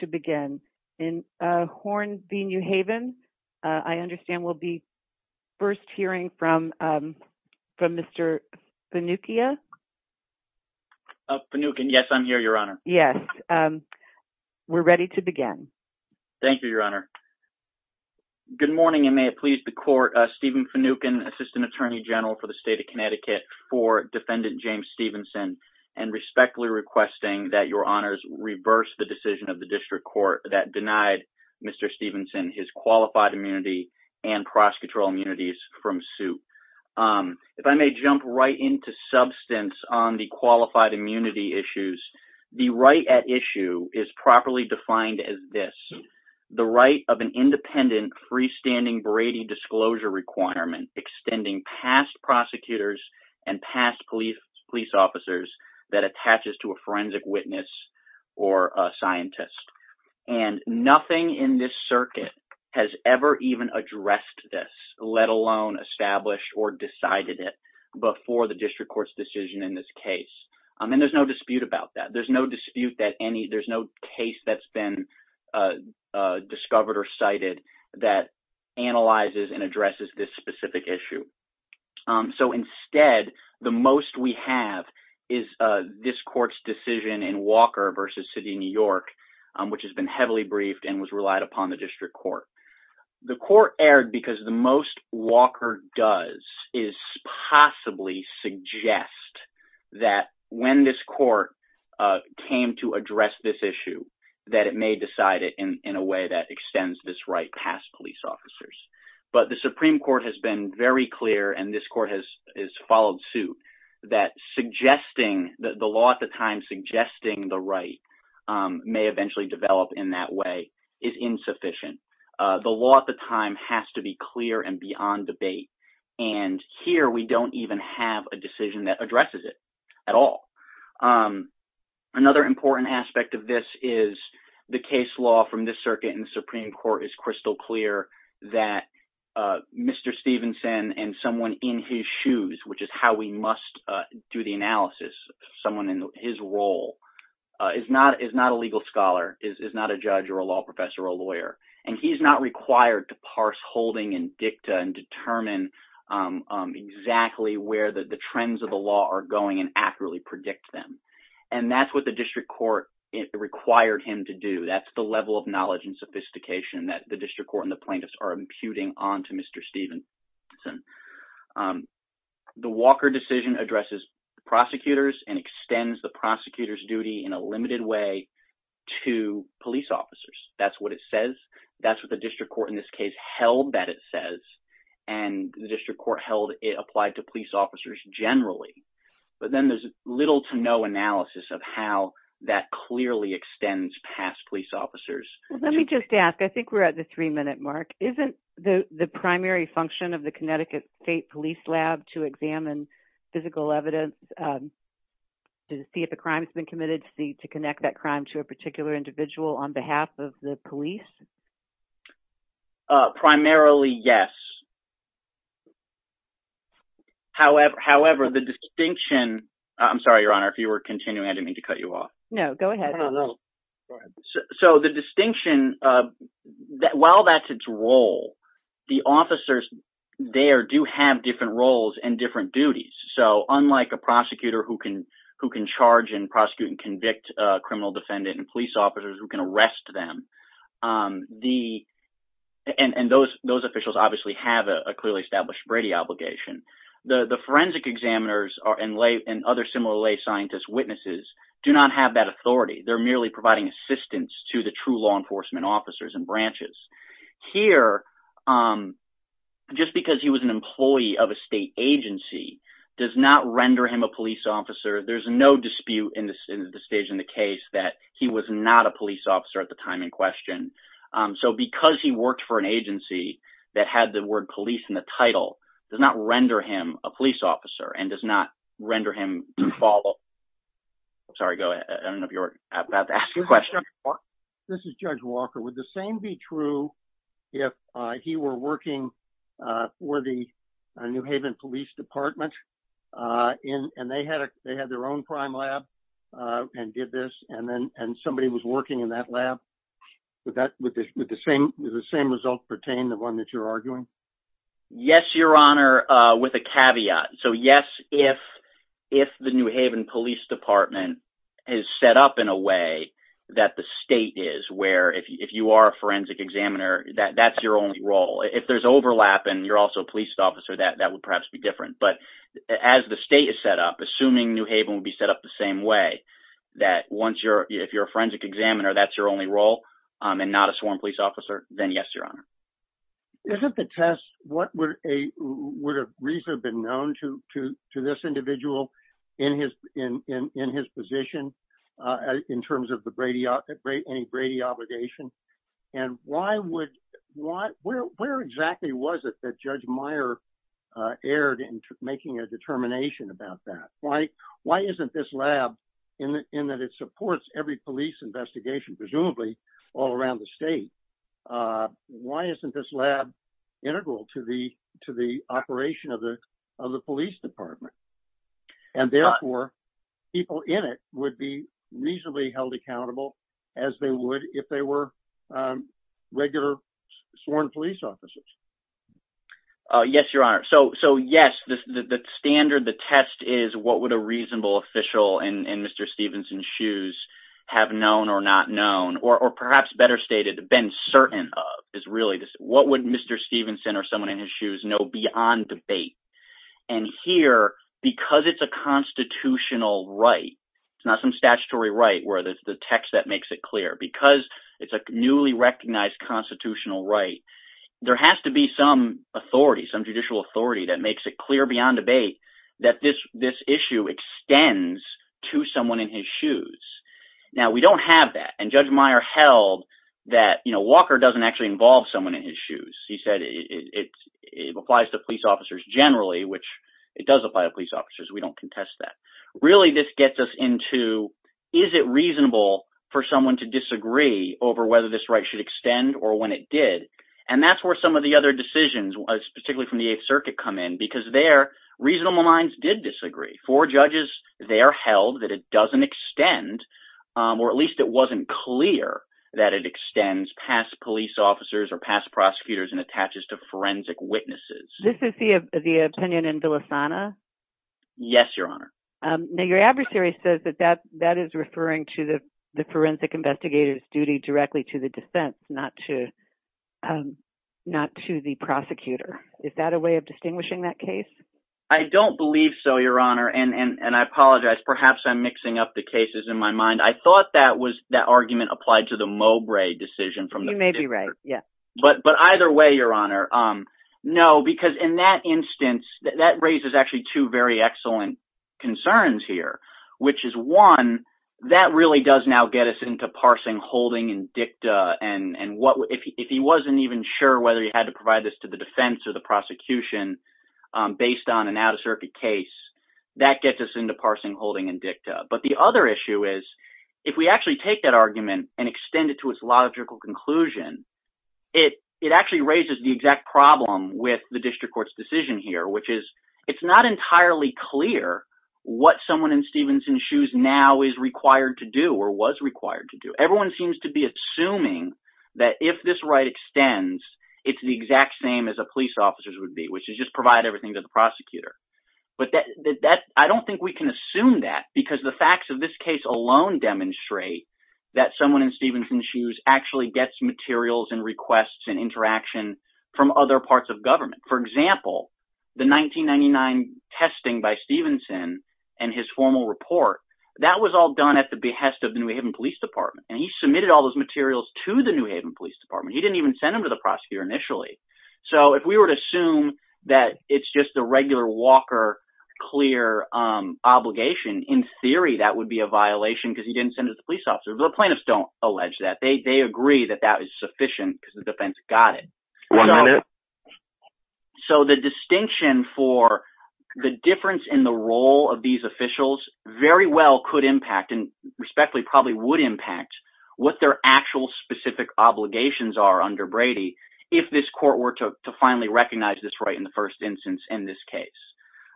to begin in Horn v. New Haven. I understand we'll be first hearing from from Mr. Finuccia. Finuccan, yes, I'm here, Your Honor. Yes, we're ready to begin. Thank you, Your Honor. Good morning and may it please the Court. Stephen Finuccan, Assistant Attorney General for the State of Connecticut for Defendant James Stevenson, and respectfully requesting that your District Court that denied Mr. Stevenson his qualified immunity and prosecutorial immunities from suit. If I may jump right into substance on the qualified immunity issues, the right at issue is properly defined as this, the right of an independent freestanding Brady disclosure requirement extending past prosecutors and past police officers that attaches to a forensic witness or a scientist, and nothing in this circuit has ever even addressed this, let alone establish or decided it before the District Court's decision in this case. I mean there's no dispute about that. There's no dispute that any there's no case that's been discovered or cited that analyzes and addresses this specific issue. So instead, the most we have is this court's decision in Walker v. City, New York, which has been heavily briefed and was relied upon the District Court. The court erred because the most Walker does is possibly suggest that when this court came to address this issue, that it may decide it in a way that extends this right past police officers. But the Supreme Court has been very clear, and this court has followed suit, that suggesting that the law at the time suggesting the right may eventually develop in that way is insufficient. The law at the time has to be clear and beyond debate, and here we don't even have a decision that addresses it at all. Another important aspect of this is the case law from this circuit in the Supreme Court is crystal clear that Mr. Stevenson and someone in his shoes, which is how we must do the analysis, someone in his role, is not a legal scholar, is not a judge or a law professor or a lawyer, and he's not required to parse holding and dicta and determine exactly where the trends of the law are going and accurately predict them. And that's what the District Court required him to do. That's the level of knowledge and sophistication that the District Court and the plaintiffs are imputing on to Mr. Stevenson. The Walker decision addresses prosecutors and extends the prosecutor's duty in a limited way to police officers. That's what it says. That's what the District Court in this case held that it says, and the District Court held it applied to police officers generally. But then there's little to no analysis of how that clearly extends past police officers. Let me just ask, I think we're at the three-minute mark. Isn't the primary function of the Connecticut State Police Lab to examine physical evidence to see if a crime has been committed to connect that crime to a particular individual on behalf of the police? Primarily, yes. However, the distinction, I'm sorry, Your Honor, I didn't mean to cut you off. No, go ahead. So the distinction, while that's its role, the officers there do have different roles and different duties. So unlike a prosecutor who can charge and prosecute and convict a criminal defendant and police officers who can arrest them, and those those officials obviously have a clearly established Brady obligation, the do not have that authority. They're merely providing assistance to the true law enforcement officers and branches. Here, just because he was an employee of a state agency does not render him a police officer. There's no dispute in the stage in the case that he was not a police officer at the time in question. So because he worked for an agency that had the word police in the title does not render him a police officer and does not render him to follow. I'm sorry, go ahead. I don't know if you're about to ask your question. This is Judge Walker. Would the same be true if he were working for the New Haven Police Department and they had their own prime lab and did this and then and somebody was working in that lab? Would the same results pertain to the one that you're arguing? Yes, Your Honor, with a caveat. So yes, if the New Haven Police Department is set up in a way that the state is, where if you are a forensic examiner, that's your only role. If there's overlap and you're also a police officer, that would perhaps be different. But as the state is set up, assuming New Haven would be set up the same way, that if you're a forensic examiner, that's your only role and not a sworn police officer, then yes, Your Honor. Isn't the test, what would a reason have been known to this individual in his position in terms of any Brady obligation? And why would, where exactly was it that Judge Meyer erred in making a determination about that? Why isn't this lab, in that it isn't this lab integral to the to the operation of the of the police department? And therefore, people in it would be reasonably held accountable as they would if they were regular sworn police officers. Yes, Your Honor. So yes, the standard, the test is what would a reasonable official in Mr. Stevenson's have known or not known, or perhaps better stated, been certain of, is really this, what would Mr. Stevenson or someone in his shoes know beyond debate? And here, because it's a constitutional right, it's not some statutory right where there's the text that makes it clear, because it's a newly recognized constitutional right, there has to be some authority, some judicial authority, that makes it Now, we don't have that. And Judge Meyer held that, you know, Walker doesn't actually involve someone in his shoes. He said it applies to police officers generally, which it does apply to police officers. We don't contest that. Really, this gets us into, is it reasonable for someone to disagree over whether this right should extend or when it did? And that's where some of the other decisions, particularly from the Eighth Circuit, come in, because their reasonable minds did disagree. Four judges there held that it doesn't extend, or at least it wasn't clear, that it extends past police officers or past prosecutors and attaches to forensic witnesses. This is the opinion in Villasana? Yes, Your Honor. Now, your adversary says that that is referring to the forensic investigators' duty directly to the defense, not to the prosecutor. Is that a way of distinguishing that case? I don't believe so, Your Honor, and I apologize. Perhaps I'm mixing up the cases in my mind. I thought that was that argument applied to the Mowbray decision from the Fifth Circuit. You may be right, yes. But either way, Your Honor, no, because in that instance, that raises actually two very excellent concerns here, which is one, that really does now get us into parsing, holding, and dicta, and if he wasn't even sure whether he had to provide this to the defense or the prosecution based on an out-of-circuit case, that gets us into parsing, holding, and dicta. But the other issue is, if we actually take that argument and extend it to its logical conclusion, it actually raises the exact problem with the district court's decision here, which is, it's not entirely clear what someone in Stevenson's shoes now is required to do, or was required to do. Everyone seems to be assuming that if this right extends, it's the exact same as a police officer's would be, which is just provide everything to the prosecutor. But I don't think we can assume that, because the facts of this case alone demonstrate that someone in Stevenson's shoes actually gets materials and requests and interaction from other parts of government. For example, the 1999 testing by Stevenson and his formal report, that was all done at the behest of the New Haven Police Department, and he submitted all those materials to the New Haven Police Department. He didn't even send them to the prosecutor initially. So if we were to assume that it's just a regular Walker clear obligation, in theory that would be a violation because he didn't send it to the police officer. But the plaintiffs don't allege that. They agree that that was sufficient because the defense got it. So the distinction for the difference in the role of these officials very well could impact, and respectfully probably would impact, what their actual specific obligations are under Brady, if this court were to finally recognize this right in the first instance in this case.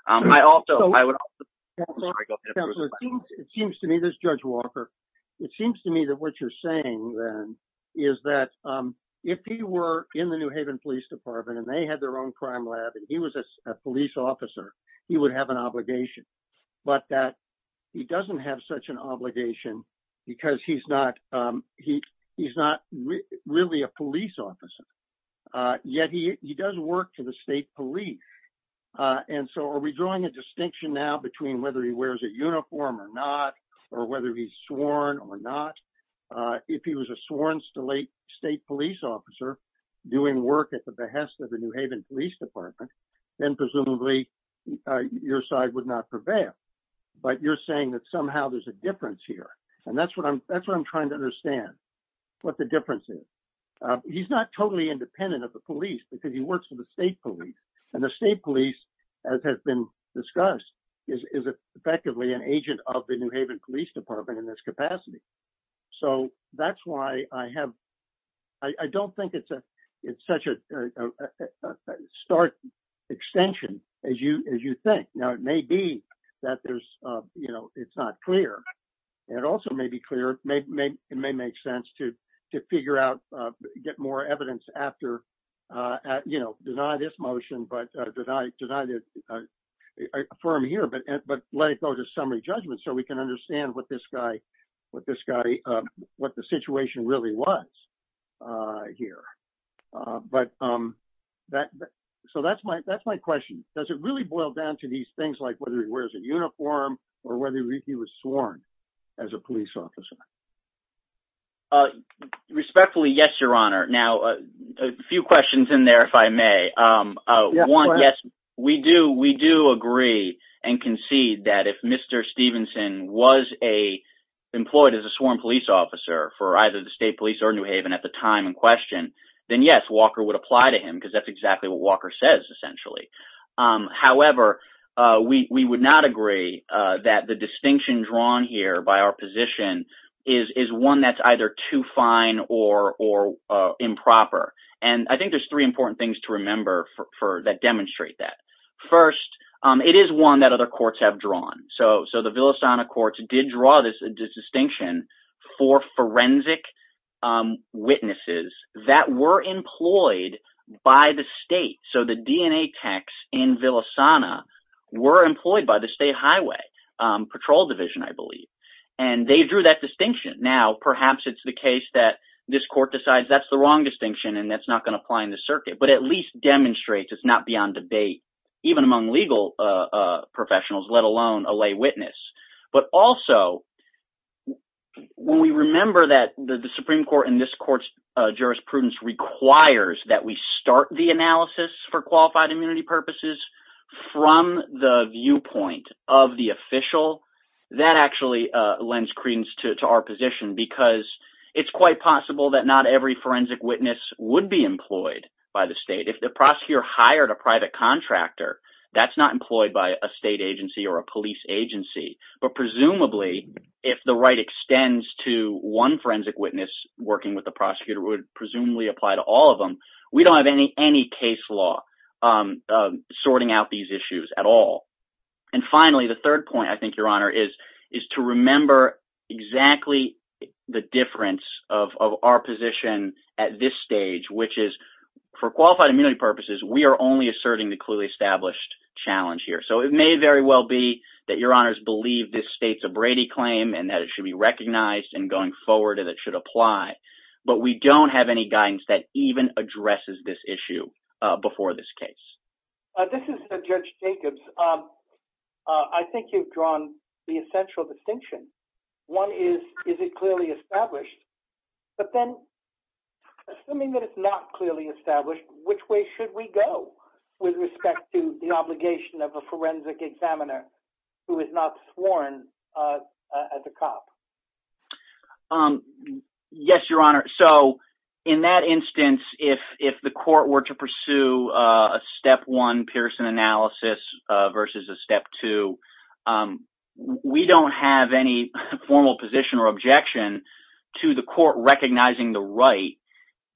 I also, I would also, it seems to me, this is Judge Walker, it seems to me that what you're saying then is that if he were in the New Haven Police Department and they had their own crime lab and he was a police officer, he would have an obligation. But that he doesn't have such an obligation because he's not, he's not really a police officer, yet he does work for the state police. And so are we drawing a distinction now between whether he wears a uniform or not, or whether he's sworn or not? If he was a sworn state police officer doing work at the behest of the New Haven Police Department, then presumably your side would not prevail. But you're saying that somehow there's a difference. That's what I'm trying to understand, what the difference is. He's not totally independent of the police because he works for the state police, and the state police, as has been discussed, is effectively an agent of the New Haven Police Department in this capacity. So that's why I have, I don't think it's a, it's such a stark extension as you, as you think. Now it may be that there's, you know, it's not clear. It also may be clear, it may make sense to to figure out, get more evidence after, you know, deny this motion, but that I denied it, affirm here, but let it go to summary judgment so we can understand what this guy, what this guy, what the situation really was here. But that, so that's my, that's my question. Does it really boil down to these things like whether he wears a uniform or whether he was sworn as a police officer? Respectfully, yes, your honor. Now a few questions in there, if I may. One, yes, we do, we do agree and concede that if Mr. Stevenson was a, employed as a sworn police officer for either the state police or New Haven at the time in question, then yes, Walker would apply to him because that's exactly what Walker says essentially. However, we would not agree that the distinction drawn here by our position is, is one that's either too fine or, or improper. And I think there's three important things to remember for, that demonstrate that. First, it is one that other courts have drawn. So, so the Villasana courts did draw this distinction for forensic witnesses that were employed by the state, so the DNA techs in Villasana were employed by the state highway patrol division, I believe. And they drew that distinction. Now, perhaps it's the case that this court decides that's the wrong distinction and that's not going to apply in the circuit, but at least demonstrates it's not beyond debate, even among legal professionals, let alone a lay witness. But also, when we remember that the Supreme Court in this court's jurisprudence requires that we start the qualified immunity purposes from the viewpoint of the official, that actually lends credence to our position because it's quite possible that not every forensic witness would be employed by the state. If the prosecutor hired a private contractor, that's not employed by a state agency or a police agency. But presumably, if the right extends to one forensic witness working with the prosecutor would presumably apply to all of them. We don't have any, any case law sorting out these issues at all. And finally, the third point, I think, Your Honor, is, is to remember exactly the difference of our position at this stage, which is for qualified immunity purposes, we are only asserting the clearly established challenge here. So it may very well be that Your Honors believe this states a Brady claim and that it should be recognized and going forward and it should apply. But we don't have any guidance that even addresses this case. This is the Judge Jacobs. Um, I think you've drawn the essential distinction. One is, is it clearly established? But then assuming that it's not clearly established, which way should we go with respect to the obligation of a forensic examiner who is not sworn as a cop? Um, yes, Your instance, if the court were to pursue a step one Pearson analysis versus a step two, um, we don't have any formal position or objection to the court recognizing the right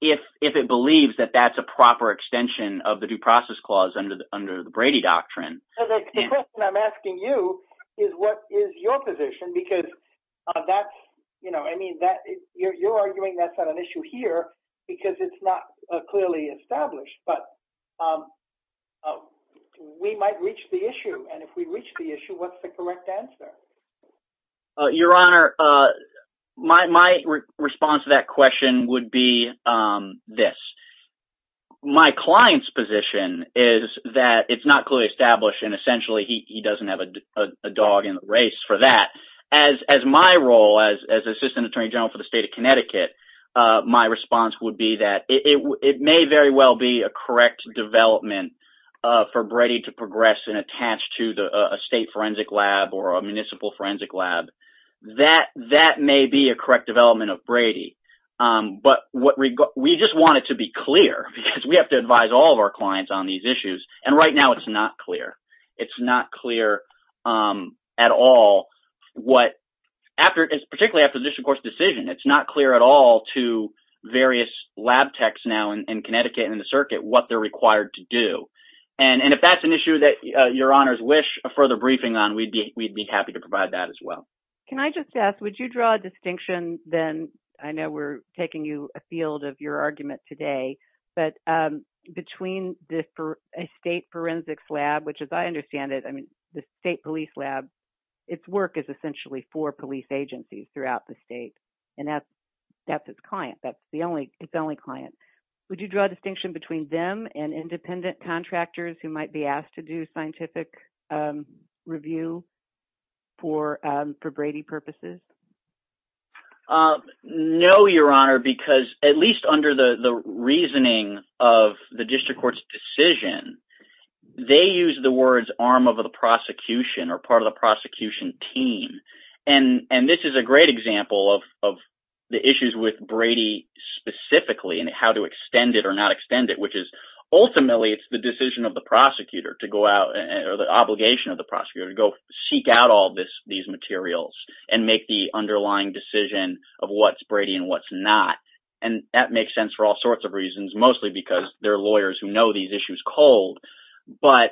if it believes that that's a proper extension of the due process clause under the Brady doctrine. I'm asking you is what is your position? Because that's, you know, I mean, that you're arguing that's not an issue here because it's not clearly established. But, um, we might reach the issue. And if we reach the issue, what's the correct answer? Uh, Your Honor? Uh, my response to that question would be, um, this. My client's position is that it's not clearly established. And essentially, he doesn't have a dog in the race for that. As as my role as assistant attorney general for the state of Connecticut, my response would be that it may very well be a correct development for Brady to progress and attached to the state forensic lab or a municipal forensic lab that that may be a correct development of Brady. But what we just wanted to be clear because we have to advise all of our clients on these issues. And right now it's not clear. It's not clear. Um, at all. What after it's particularly after this, of course, decision, it's not clear at all to various lab techs now in Connecticut in the circuit what they're required to do. And if that's an issue that your honors wish a further briefing on, we'd be we'd be happy to provide that as well. Can I just ask? Would you draw a distinction? Then I know we're taking you a field of your argument today. But between the state forensics lab, which is I understand it. I mean, the state police lab, its work is essentially for police agencies throughout the state. And that's that's its client. That's the only its only client. Would you draw a distinction between them and independent contractors who might be asked to do scientific, um, review for for Brady purposes? Uh, no, Your Honor, because at least under the reasoning of the district court's decision, they use the words arm of the prosecution or part of the team. And this is a great example of of the issues with Brady specifically and how to extend it or not extend it, which is ultimately it's the decision of the prosecutor to go out or the obligation of the prosecutor to go seek out all this these materials and make the underlying decision of what's Brady and what's not. And that makes sense for all sorts of reasons, mostly because they're lawyers who know these issues cold. But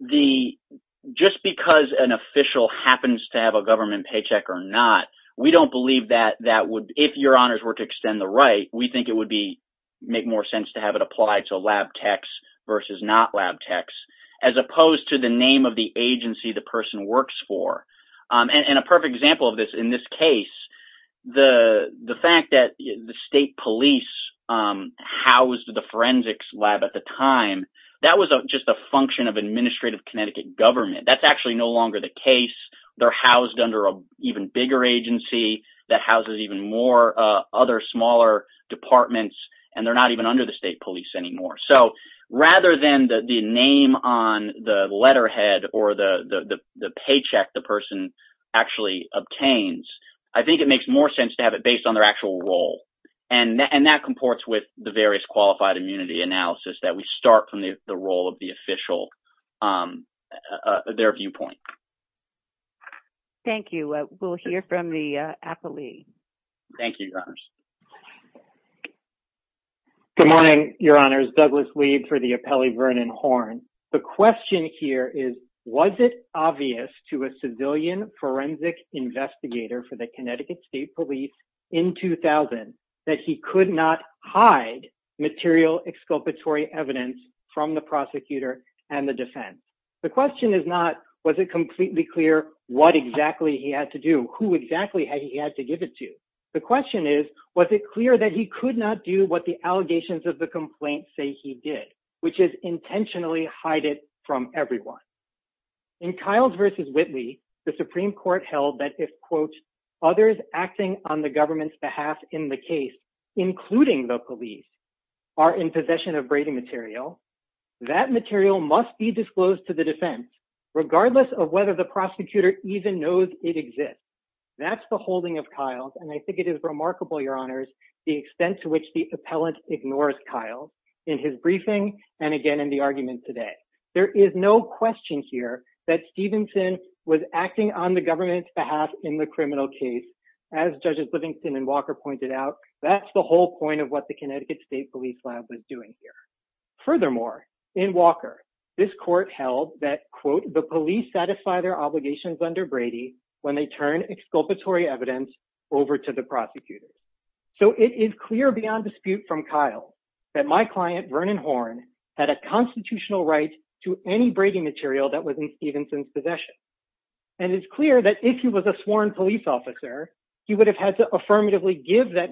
the just because an agency is asked to have a government paycheck or not, we don't believe that that would if your honors were to extend the right, we think it would be make more sense to have it applied to lab text versus not lab text as opposed to the name of the agency the person works for. Um, and a perfect example of this. In this case, the fact that the state police, um, how was the forensics lab at the time? That was just a function of administrative Connecticut government. That's actually no longer the case. They're housed under a even bigger agency that houses even more other smaller departments, and they're not even under the state police anymore. So rather than the name on the letterhead or the paycheck the person actually obtains, I think it makes more sense to have it based on their actual role. And that comports with the various qualified immunity analysis that we start from the role of the official. Um, uh, their viewpoint. Thank you. We'll hear from the athlete. Thank you, your honors. Good morning, your honors. Douglas lead for the appellee Vernon Horn. The question here is, was it obvious to a civilian forensic investigator for the Connecticut State Police in 2000 that he could not hide material exculpatory evidence from the prosecutor and the defense? The question is not, was it completely clear what exactly he had to do? Who exactly had he had to give it to? The question is, was it clear that he could not do what the allegations of the complaint say he did, which is intentionally hide it from everyone in Kyle's versus Whitley. The Supreme Court held that if quote others acting on the government's behalf in the case, including the police, are in possession of braiding material, that material must be disclosed to the defense, regardless of whether the prosecutor even knows it exists. That's the holding of Kyle's. And I think it is remarkable, your honors, the extent to which the appellant ignores Kyle in his briefing and again in the argument today. There is no question here that Stephenson was acting on the government's behalf in the criminal case. As judges Livingston and Walker pointed out, that's the whole point of what the Connecticut State Police lab was doing here. Furthermore, in Walker, this court held that quote the police satisfy their obligations under Brady when they turn exculpatory evidence over to the prosecutor. So it is clear beyond dispute from Kyle that my client Vernon Horn had a constitutional right to any braiding material that was in Stephenson's possession. And it's clear that if he was a sworn police officer, he would have had to affirmatively give that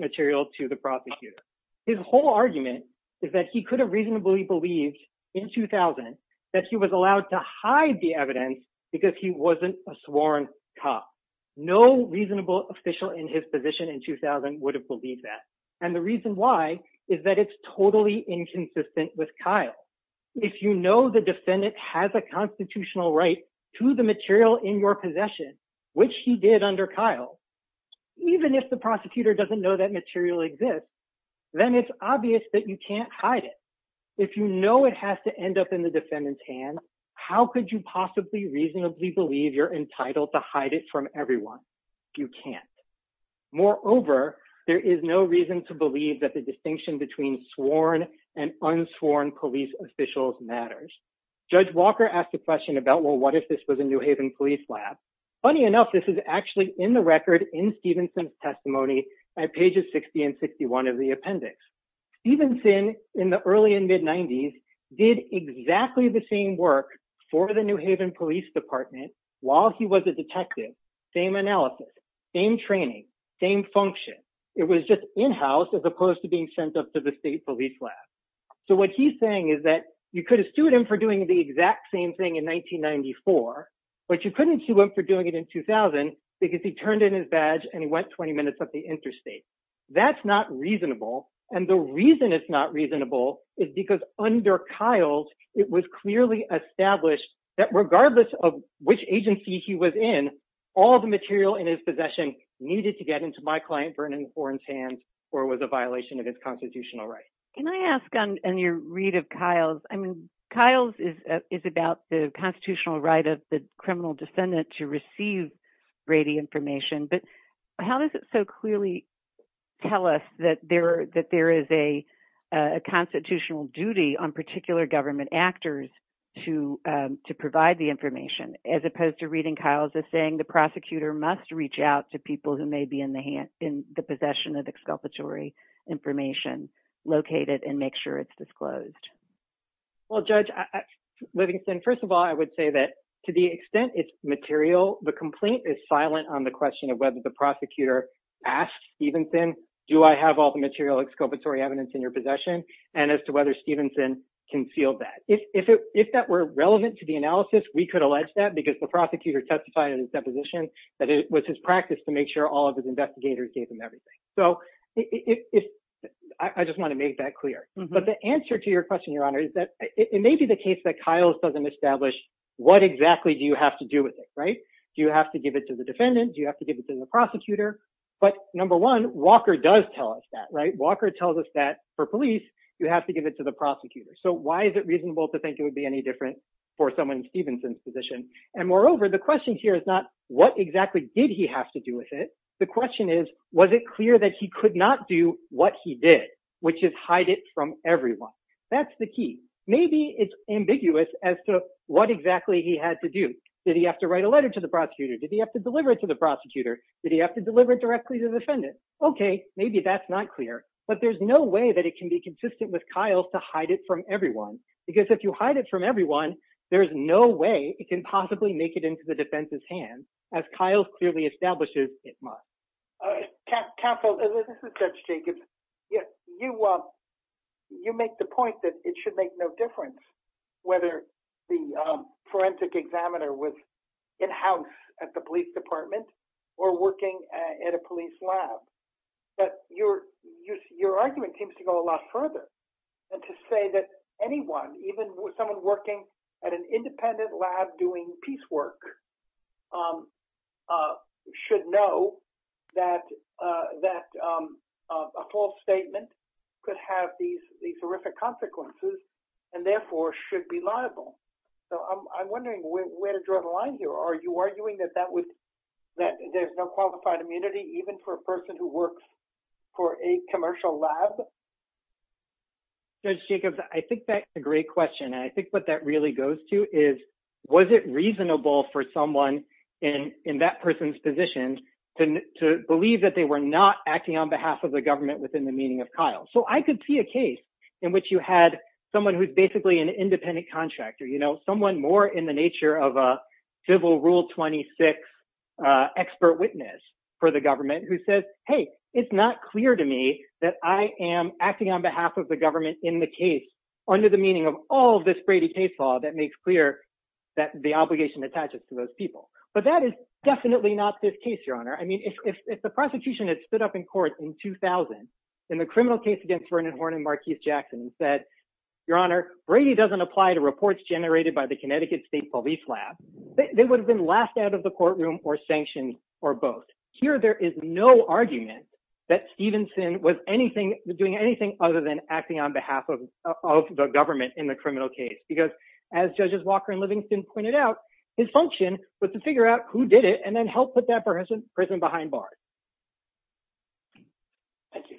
is that he could have reasonably believed in 2000 that he was allowed to hide the evidence because he wasn't a sworn cop. No reasonable official in his position in 2000 would have believed that. And the reason why is that it's totally inconsistent with Kyle. If you know the defendant has a constitutional right to the material in your possession, which he did under Kyle, even if the prosecutor doesn't know that material exists, then it's impossible to hide it. If you know it has to end up in the defendant's hand, how could you possibly reasonably believe you're entitled to hide it from everyone? You can't. Moreover, there is no reason to believe that the distinction between sworn and unsworn police officials matters. Judge Walker asked a question about well, what if this was a New Haven police lab? Funny enough, this is actually in the record in Stephenson's testimony at pages 60 and 61 of the appendix. Stephenson, in the early and mid 90s, did exactly the same work for the New Haven Police Department while he was a detective, same analysis, same training, same function. It was just in-house as opposed to being sent up to the state police lab. So what he's saying is that you could have sued him for doing the exact same thing in 1994, but you couldn't sue him for doing it in 2000 because he turned in his badge and he went 20 minutes up the interstate. That's not reasonable, and the reason it's not reasonable is because under Kyle's, it was clearly established that regardless of which agency he was in, all the material in his possession needed to get into my client Vernon Horne's hands or was a violation of his constitutional rights. Can I ask on your read of Kyle's? I mean, Kyle's is about the constitutional right of the tell us that there that there is a constitutional duty on particular government actors to to provide the information as opposed to reading Kyle's as saying the prosecutor must reach out to people who may be in the hand in the possession of exculpatory information located and make sure it's disclosed. Well, Judge Livingston, first of all, I would say that to the extent it's material, the complaint is silent on the question of whether the prosecutor asked Stevenson, do I have all the material exculpatory evidence in your possession, and as to whether Stevenson concealed that. If that were relevant to the analysis, we could allege that because the prosecutor testified in his deposition that it was his practice to make sure all of his investigators gave him everything. So I just want to make that clear, but the answer to your question, Your Honor, is that it may be the case that Kyle's doesn't establish what exactly do you have to do with it, right? Do you have to give it to the prosecutor? Number one, Walker does tell us that, right? Walker tells us that for police, you have to give it to the prosecutor. So why is it reasonable to think it would be any different for someone in Stevenson's position? And moreover, the question here is not what exactly did he have to do with it. The question is, was it clear that he could not do what he did, which is hide it from everyone? That's the key. Maybe it's ambiguous as to what exactly he had to do. Did he have to write a letter to the prosecutor? Did he have to deliver it to the prosecutor? Did he have to deliver it directly to the defendant? Okay, maybe that's not clear, but there's no way that it can be consistent with Kyle's to hide it from everyone. Because if you hide it from everyone, there's no way it can possibly make it into the defense's hands. As Kyle's clearly establishes, it must. Counsel, this is Judge Jacobs. You make the point that it should make no difference whether the forensic examiner was in-house at the police department or working at a police lab. But your argument seems to go a lot further and to say that anyone, even someone working at an independent lab doing piecework, should know that a false statement could have these horrific consequences and therefore should be liable. So I'm wondering where you're drawing the line here. Are you arguing that there's no qualified immunity, even for a person who works for a commercial lab? Judge Jacobs, I think that's a great question. And I think what that really goes to is, was it reasonable for someone in that person's position to believe that they were not acting on behalf of the government within the meaning of Kyle? So I could see a case in which you had someone who's basically an independent contractor, you know, someone more in the nature of a civil rule 26 expert witness for the government who says, hey, it's not clear to me that I am acting on behalf of the government in the case under the meaning of all this Brady case law that makes clear that the obligation attaches to those people. But that is definitely not this case, Your Honor. I mean, if the prosecution had stood up in court in 2000 in the criminal case against Vernon Horn and Marquise Jackson and said, Your Honor, Brady doesn't apply to reports generated by the Connecticut State Police Lab, they would have been laughed out of the courtroom or sanctioned or both. Here there is no argument that Stevenson was doing anything other than acting on behalf of the government in the criminal case. Because as Judges Walker and Livingston pointed out, his function was to figure out who did it and then help put that person behind bars.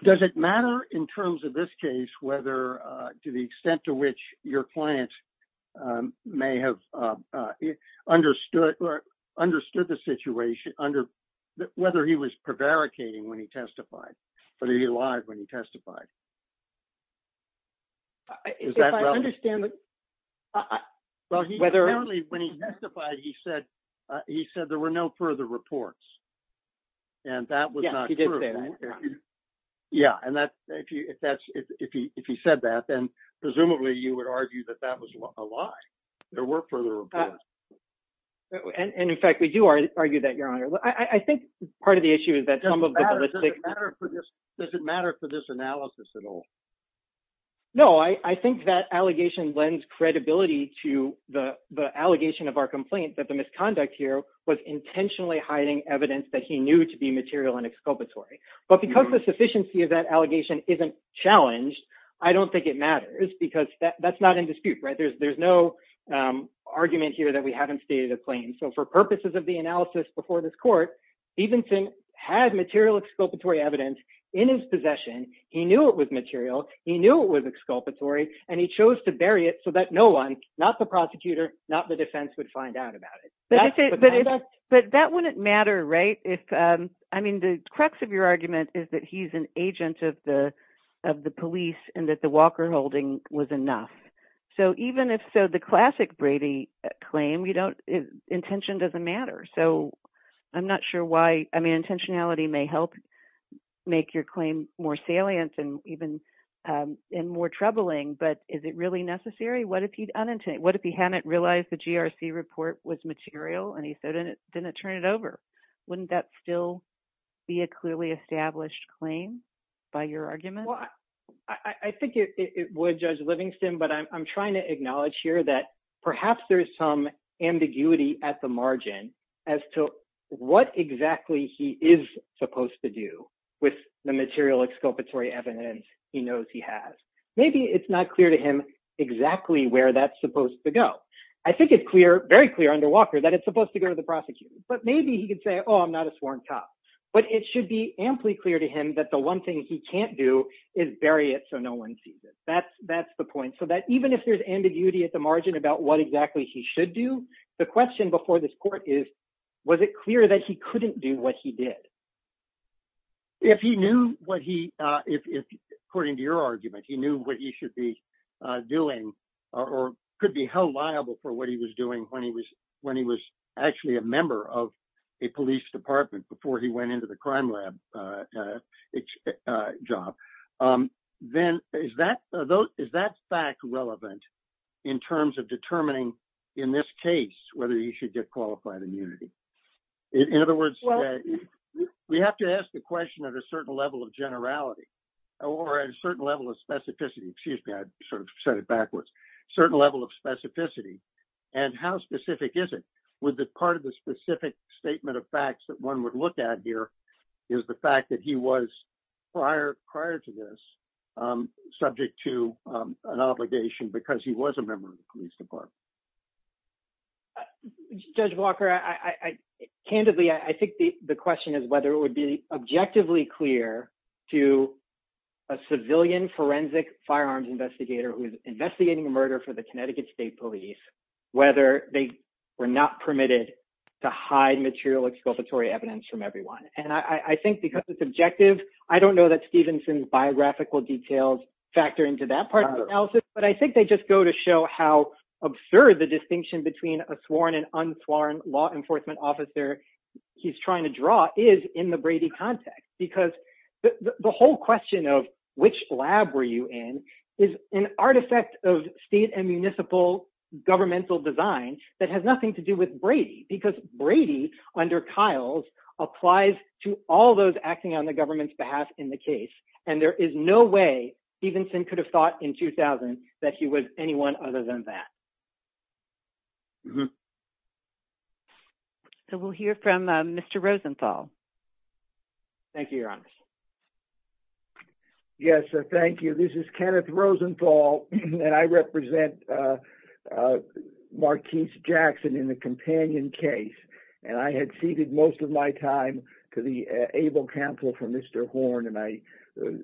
Does it matter in terms of this case whether to the extent to which your client may have understood or understood the situation under whether he was prevaricating when he testified, whether he lied when he testified? I understand that. Well, he clearly when he testified, he said he said there were no further reports and that was not true. Yeah, and if he said that, then presumably you would argue that that was a lie. There were further reports. And in fact, we do argue that, Your Honor. I think part of the issue is that some of the does it matter for this analysis at all? No, I think that allegation lends credibility to the the allegation of our complaint that the evidence that he knew to be material and exculpatory. But because the sufficiency of that allegation isn't challenged, I don't think it matters because that's not in dispute, right? There's no argument here that we haven't stated a claim. So for purposes of the analysis before this court, Stevenson had material exculpatory evidence in his possession. He knew it was material, he knew it was exculpatory, and he chose to bury it so that no one, not the prosecutor, not the It wouldn't matter, right? I mean, the crux of your argument is that he's an agent of the police and that the Walker holding was enough. So even if so, the classic Brady claim, intention doesn't matter. So I'm not sure why, I mean, intentionality may help make your claim more salient and even more troubling, but is it really necessary? What if he hadn't realized the GRC report was material and he so didn't turn it over? Wouldn't that still be a clearly established claim by your argument? Well, I think it would, Judge Livingston, but I'm trying to acknowledge here that perhaps there's some ambiguity at the margin as to what exactly he is supposed to do with the material exculpatory evidence he knows he has. Maybe it's not clear to him exactly where that's supposed to go. I think it's clear, very clear under Walker that it's supposed to go to the prosecutor, but maybe he could say, oh, I'm not a sworn cop, but it should be amply clear to him that the one thing he can't do is bury it so no one sees it. That's the point, so that even if there's ambiguity at the margin about what exactly he should do, the question before this court is, was it clear that he couldn't do what he did? If he knew what he, according to your argument, he knew what he should be doing or could be held liable for what he was doing when he was actually a member of a police department before he went into the crime lab job, then is that fact relevant in terms of determining, in this case, whether he should get qualified immunity? In other words, we have to ask the question at a certain level of generality or a certain level of specificity, excuse me, I sort of said it backwards, certain level of specificity, and how specific is it? Would the part of the specific statement of facts that one would look at here is the fact that he was prior to this subject to an obligation because he was a member of the police department? Judge Walker, candidly, I think the question is whether it would be objectively clear to a civilian forensic firearms investigator who is investigating murder for the Connecticut State Police, whether they were not permitted to hide material exculpatory evidence from everyone. And I think because it's objective, I don't know that Stevenson's biographical details factor into that part of the analysis, but I think they just go to show how absurd the distinction between a sworn and unsworn law enforcement officer he's in the Brady context, because the whole question of which lab were you in is an artifact of state and municipal governmental design that has nothing to do with Brady, because Brady, under Kyles, applies to all those acting on the government's behalf in the case, and there is no way Stevenson could have thought in 2000 that he was anyone other than that. Mm-hmm. So we'll hear from Mr. Rosenthal. Thank you, Your Honor. Yes, thank you. This is Kenneth Rosenthal, and I represent Marquise Jackson in the companion case, and I had ceded most of my time to the able counsel for Mr. Horne, and I was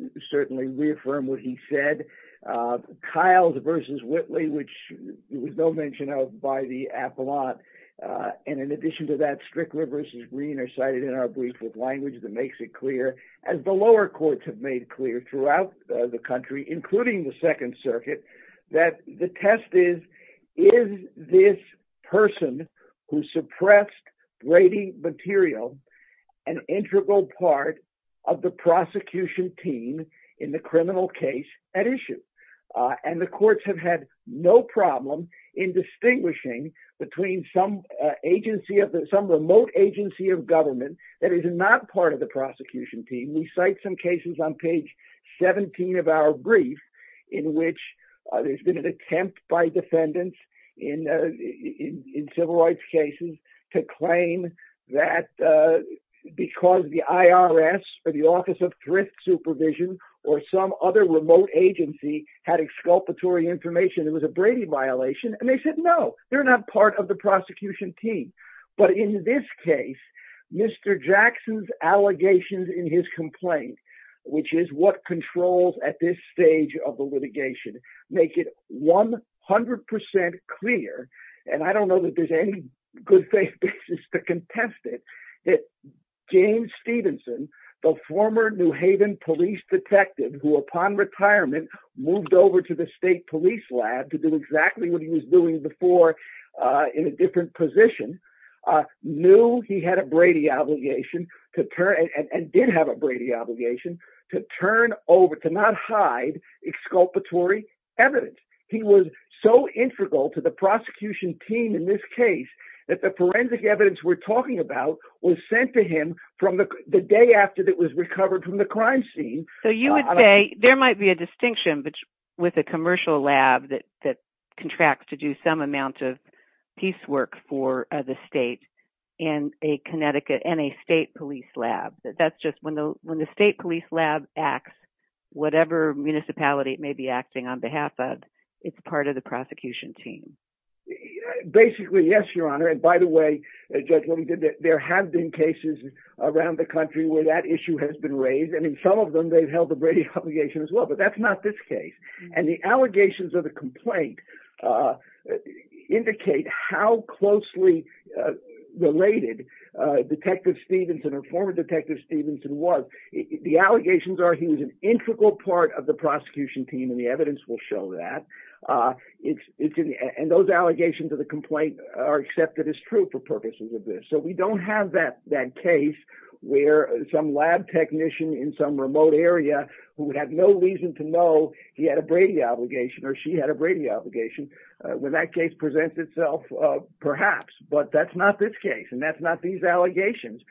no mention of by the appellant, and in addition to that, Strickler versus Green are cited in our brief with language that makes it clear, as the lower courts have made clear throughout the country, including the Second Circuit, that the test is, is this person who suppressed Brady material an integral part of the prosecution team in the criminal case at issue? And the courts have had no problem in distinguishing between some agency of the, some remote agency of government that is not part of the prosecution team. We cite some cases on page 17 of our brief in which there's been an attempt by defendants in, in civil rights cases to claim that because the IRS or the Office of Thrift Supervision or some other remote agency had exculpatory information it was a Brady violation, and they said no, they're not part of the prosecution team. But in this case, Mr. Jackson's allegations in his complaint, which is what controls at this stage of the litigation, make it 100% clear, and I don't know that there's any good faith basis to contest it, that James Jackson, police detective, who upon retirement moved over to the state police lab to do exactly what he was doing before in a different position, knew he had a Brady obligation to turn, and did have a Brady obligation, to turn over, to not hide exculpatory evidence. He was so integral to the prosecution team in this case that the forensic evidence we're talking about was sent to him from the day after that was recovered from the crime scene. So you would say there might be a distinction, but with a commercial lab that, that contracts to do some amount of piecework for the state in a Connecticut, in a state police lab, that that's just when the, when the state police lab acts, whatever municipality it may be acting on behalf of, it's part of the prosecution team. Basically, yes, Your Honor, and by the way, Judge, what we did, there have been cases around the country where that issue has been raised, and in some of them they've held the Brady obligation as well, but that's not this case. And the allegations of the complaint indicate how closely related Detective Stevenson, or former Detective Stevenson, was. The allegations are he was an integral part of the prosecution team, and the evidence will show that. It's, it's, and those allegations of the complaint are accepted as true for purposes of this. So we don't have that, that case where some lab technician in some remote area who would have no reason to know he had a Brady obligation, or she had a Brady obligation, when that case presents itself, perhaps. But that's not this case, and that's not these allegations.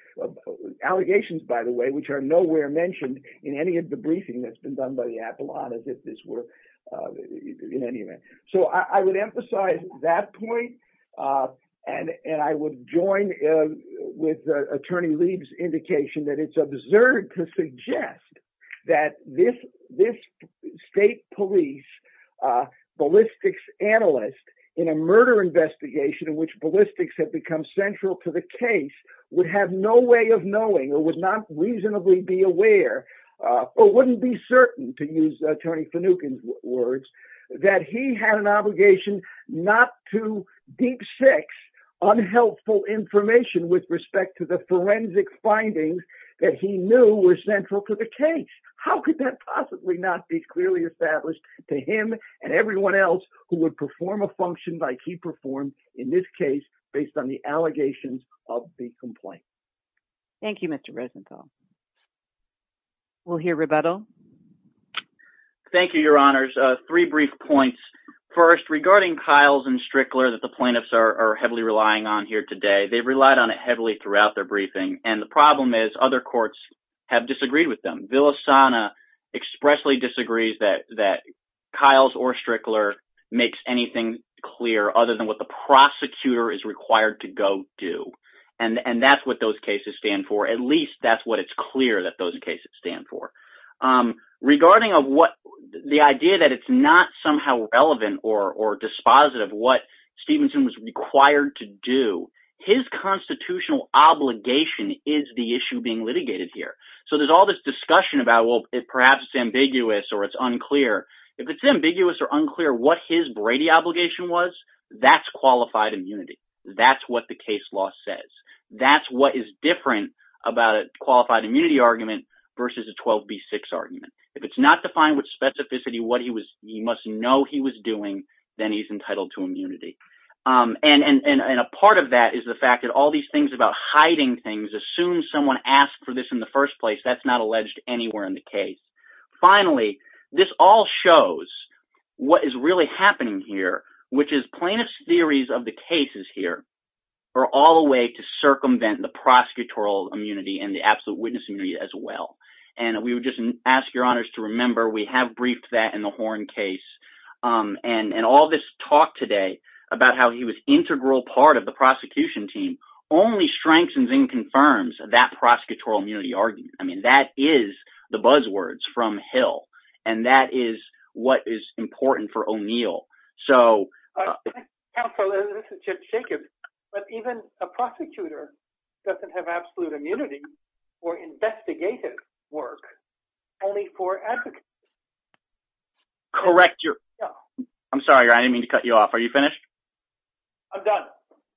Allegations, by the way, which are nowhere mentioned in any of the briefing that's were, in any event. So I would emphasize that point, and, and I would join with Attorney Leib's indication that it's absurd to suggest that this, this state police ballistics analyst, in a murder investigation in which ballistics have become central to the case, would have no way of knowing, or would not reasonably be aware, or wouldn't be certain, to use Attorney Finucane's words, that he had an obligation not to deep-six unhelpful information with respect to the forensic findings that he knew were central to the case. How could that possibly not be clearly established to him and everyone else who would perform a function like he performed in this case, based on the allegations of the complaint. Thank you, Mr. Rosenthal. We'll hear rebuttal. Thank you, Your Honors. Three brief points. First, regarding Kiles and Strickler that the plaintiffs are heavily relying on here today, they've relied on it heavily throughout their briefing, and the problem is other courts have disagreed with them. Villasana expressly disagrees that, that Kiles or Strickler makes anything clear other than what the prosecutor is required to go do, and, and that's what those cases stand for. At least that's what it's clear that those cases stand for. Regarding of what, the idea that it's not somehow relevant or, or dispositive what Stevenson was required to do, his constitutional obligation is the issue being litigated here. So there's all this discussion about, well, it perhaps ambiguous or it's unclear. If it's ambiguous or unclear what his Brady obligation was, that's immunity. That's what the case law says. That's what is different about a qualified immunity argument versus a 12b6 argument. If it's not defined with specificity what he was, he must know he was doing, then he's entitled to immunity. And, and, and a part of that is the fact that all these things about hiding things, assume someone asked for this in the first place, that's not alleged anywhere in the case. Finally, this all shows what is really happening here, which is plaintiff's theories of the cases here are all a way to circumvent the prosecutorial immunity and the absolute witness immunity as well. And we would just ask your honors to remember we have briefed that in the Horn case. Um, and, and all this talk today about how he was integral part of the prosecution team only strengthens and confirms that prosecutorial immunity argument. I mean, that is the buzzwords from Hill. And that is what is important for O'Neill. So counsel, this is just shaking, but even a prosecutor doesn't have absolute immunity or investigative work only for advocates. Correct. You're I'm sorry, I didn't mean to cut you off. Are you finished? I'm done.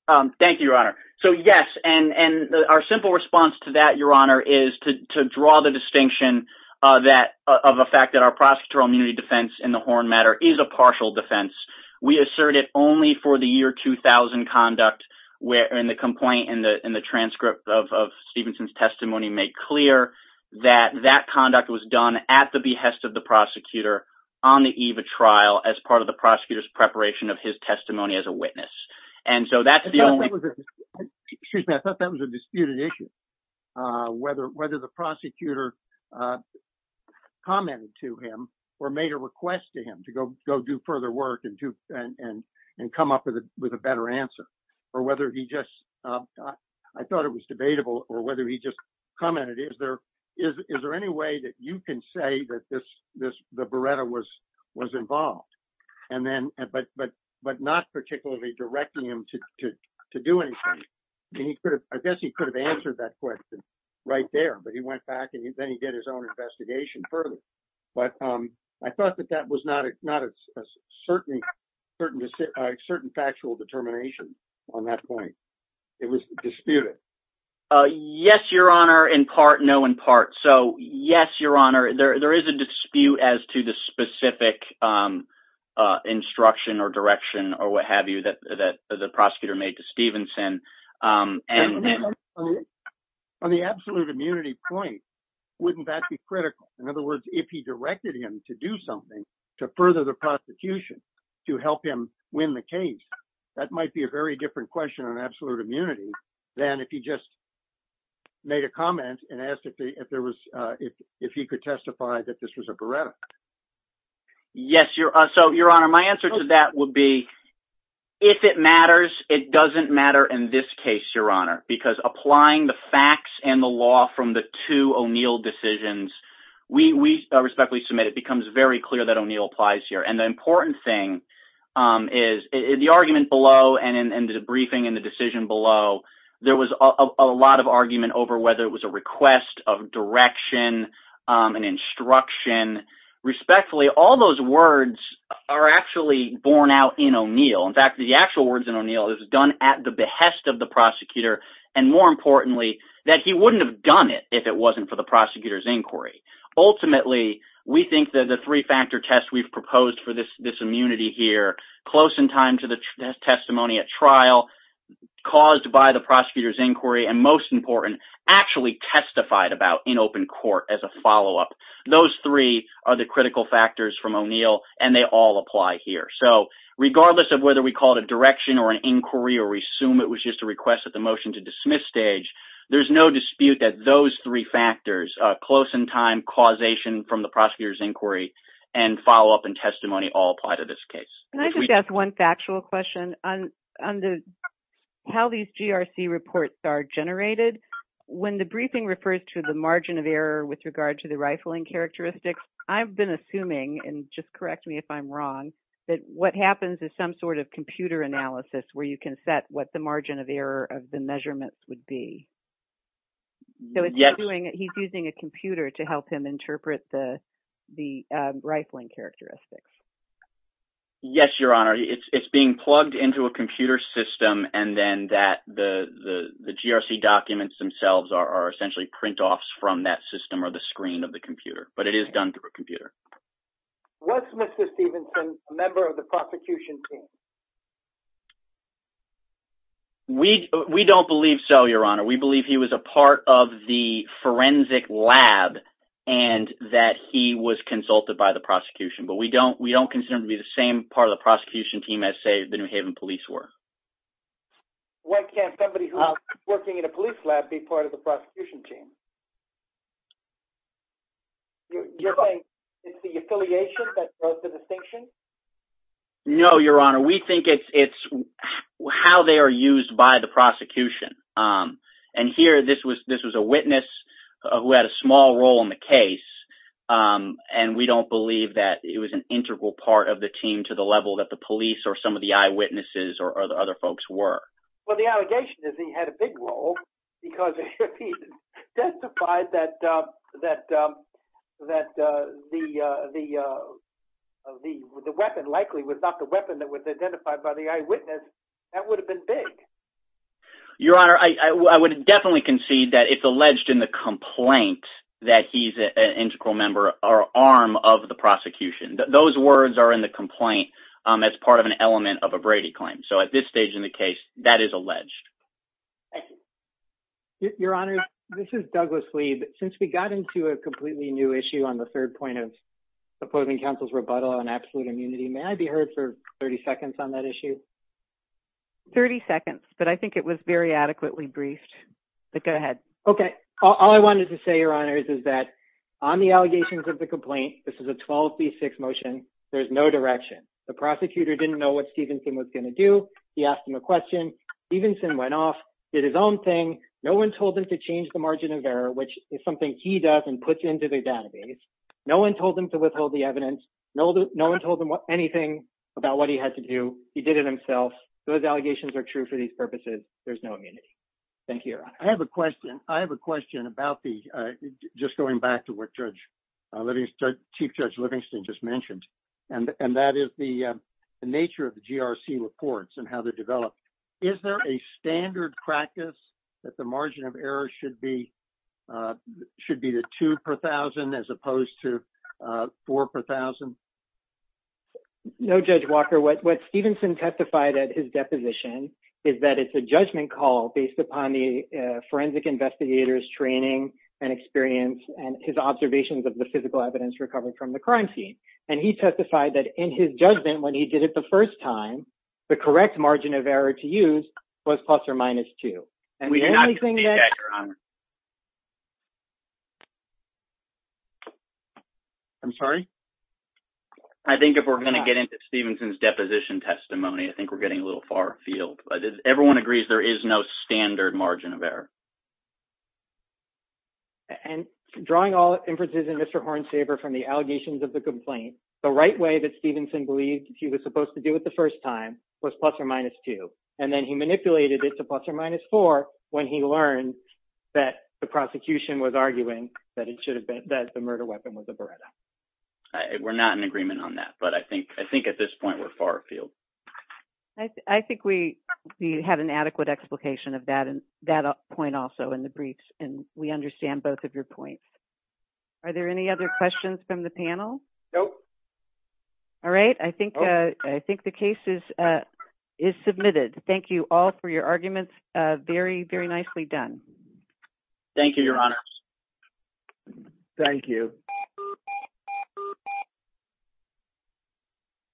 Um, thank you, Your Honor. So yes. And, and our simple response to that, Your Honor, is to draw the distinction, uh, that of a fact that our prosecutorial immunity defense in the Horn matter is a partial defense. We assert it only for the year 2000 conduct where, and the complaint in the, in the transcript of, of Stevenson's testimony made clear that that conduct was done at the behest of the prosecutor on the eve of trial as part of the prosecutor's preparation of his testimony as a witness. And so that's the only, excuse me, I thought that was a disputed issue. Uh, whether, whether the prosecutor, uh, commented to him or made a request to him to go, go do further work and do, and, and, and come up with a, with a better answer or whether he just, uh, I thought it was debatable or whether he just commented, is there, is, is there any way that you can say that this, this, the Beretta was, was involved and then, but, but, but not particularly directing him to, to, to do anything. And he could have, I guess he could have answered that question right there, but he went back and then he did his own investigation further. But, um, I thought that that was not a, not a certain, certain, a certain factual determination on that point. It was disputed. Uh, yes, your honor in part, no in part. So yes, your honor, there, there is a dispute as to the specific, um, uh, instruction or direction or what have you that, that the prosecutor made to Stevenson. Um, and on the absolute immunity point, wouldn't that be critical? In other words, if he did something to further the prosecution to help him win the case, that might be a very different question on absolute immunity than if he just made a comment and asked if there was, uh, if, if he could testify that this was a Beretta. Yes, your, uh, so your honor, my answer to that would be if it matters, it doesn't matter in this case, your honor, because applying the facts and the law from the two O'Neill decisions, we, we respectfully submit, it becomes very clear that O'Neill applies here. And the important thing, um, is the argument below and, and the briefing and the decision below, there was a lot of argument over whether it was a request of direction, um, and instruction respectfully, all those words are actually born out in O'Neill. In fact, the actual words in O'Neill is done at the behest of the prosecutor. And more importantly, that he wouldn't have done it if it wasn't for the prosecutor's inquiry. Ultimately, we think that the three factor test we've proposed for this, this immunity here close in time to the testimony at trial caused by the prosecutor's inquiry and most important, actually testified about in open court as a follow up. Those three are the critical factors from O'Neill and they all apply here. So regardless of whether we call it a direction or an inquiry or resume, it was just a request that the motion to dismiss stage, there's no dispute that those three factors, uh, close in time causation from the prosecutor's inquiry and follow up and testimony all apply to this case. Can I just ask one factual question on, on the, how these GRC reports are generated. When the briefing refers to the margin of error with regard to the rifling characteristics, I've been assuming, and just correct me if I'm wrong, that what happens is some sort of computer analysis where you can set what the margin of error of the measurements would be. So it's doing, he's using a computer to help him interpret the, the rifling characteristics. Yes, your honor. It's being plugged into a computer system and then that the, the GRC documents themselves are essentially print offs from that system or the screen of the computer, but it is done through a computer. What's Mr. Stevenson, a member of the prosecution team? We, we don't believe so, your honor. We believe he was a part of the forensic lab and that he was consulted by the prosecution, but we don't, we don't consider him to be the same part of the prosecution team as say the New Haven police were. Why can't somebody who's working in a police lab be part of the prosecution team? You're saying it's the affiliation that drove the distinction? No, your honor. We think it's, it's how they are used by the prosecution. And here, this was, this was a witness who had a small role in the case. And we don't believe that it was an integral part of the team to the level that the police or some of the eyewitnesses or the other folks were. Well, the allegation is he had a big role because he testified that, that, that the, the, uh, the, the weapon likely was not the weapon that was identified by the eyewitness. That would have been big. Your honor, I would definitely concede that it's alleged in the complaint that he's an integral member or arm of the prosecution. Those words are in the complaint. Um, as part of an element of a Brady claim. So at this stage in the case that is alleged. Your honor, this is Douglas lead. Since we got into a completely new issue on the third point of supposing counsel's rebuttal on absolute immunity, may I be heard for 30 seconds on that issue? 30 seconds, but I think it was very adequately briefed, but go ahead. Okay. All I wanted to say, your honors, is that on the allegations of the complaint, this is a 12 C six motion. There's no direction. The prosecutor didn't know what Stevenson was going to do. He asked him a question. Stevenson went off, did his own thing. No one told them to change the margin of error, which is something he does and puts into the database. No one told him to withhold the evidence. No one told them anything about what he had to do. He did it himself. Those allegations are true for these purposes. There's no immunity. Thank you. I have a question. I have a question about the just going back to what Judge Livingston, Chief Judge Livingston just mentioned, and that is the nature of the GRC reports and how they develop. Is there a should be the two per 1000 as opposed to four per 1000? No, Judge Walker. What? What? Stevenson testified at his deposition is that it's a judgment call based upon the forensic investigators training and experience and his observations of the physical evidence recovered from the crime scene. And he testified that in his judgment when he did it the first time, the correct margin of error to use was plus or minus two. And we do anything that I'm sorry. I think if we're going to get into Stevenson's deposition testimony, I think we're getting a little far field. But everyone agrees there is no standard margin of error and drawing all inferences in Mr Horn saver from the allegations of the complaint. The right way that Stevenson believed he was supposed to do it the first time was plus or minus two. And then he manipulated it to plus or minus four when he learned that the prosecution was arguing that it should have been that the murder weapon was a Beretta. We're not in agreement on that. But I think I think at this point we're far field. I think we had an adequate explication of that and that point also in the briefs. And we understand both of your points. Are there any other questions from the panel? Nope. All right. I think I think the case is, uh, is submitted. Thank you all for your arguments. Very, very nicely done. Thank you, Your Honor. Thank you.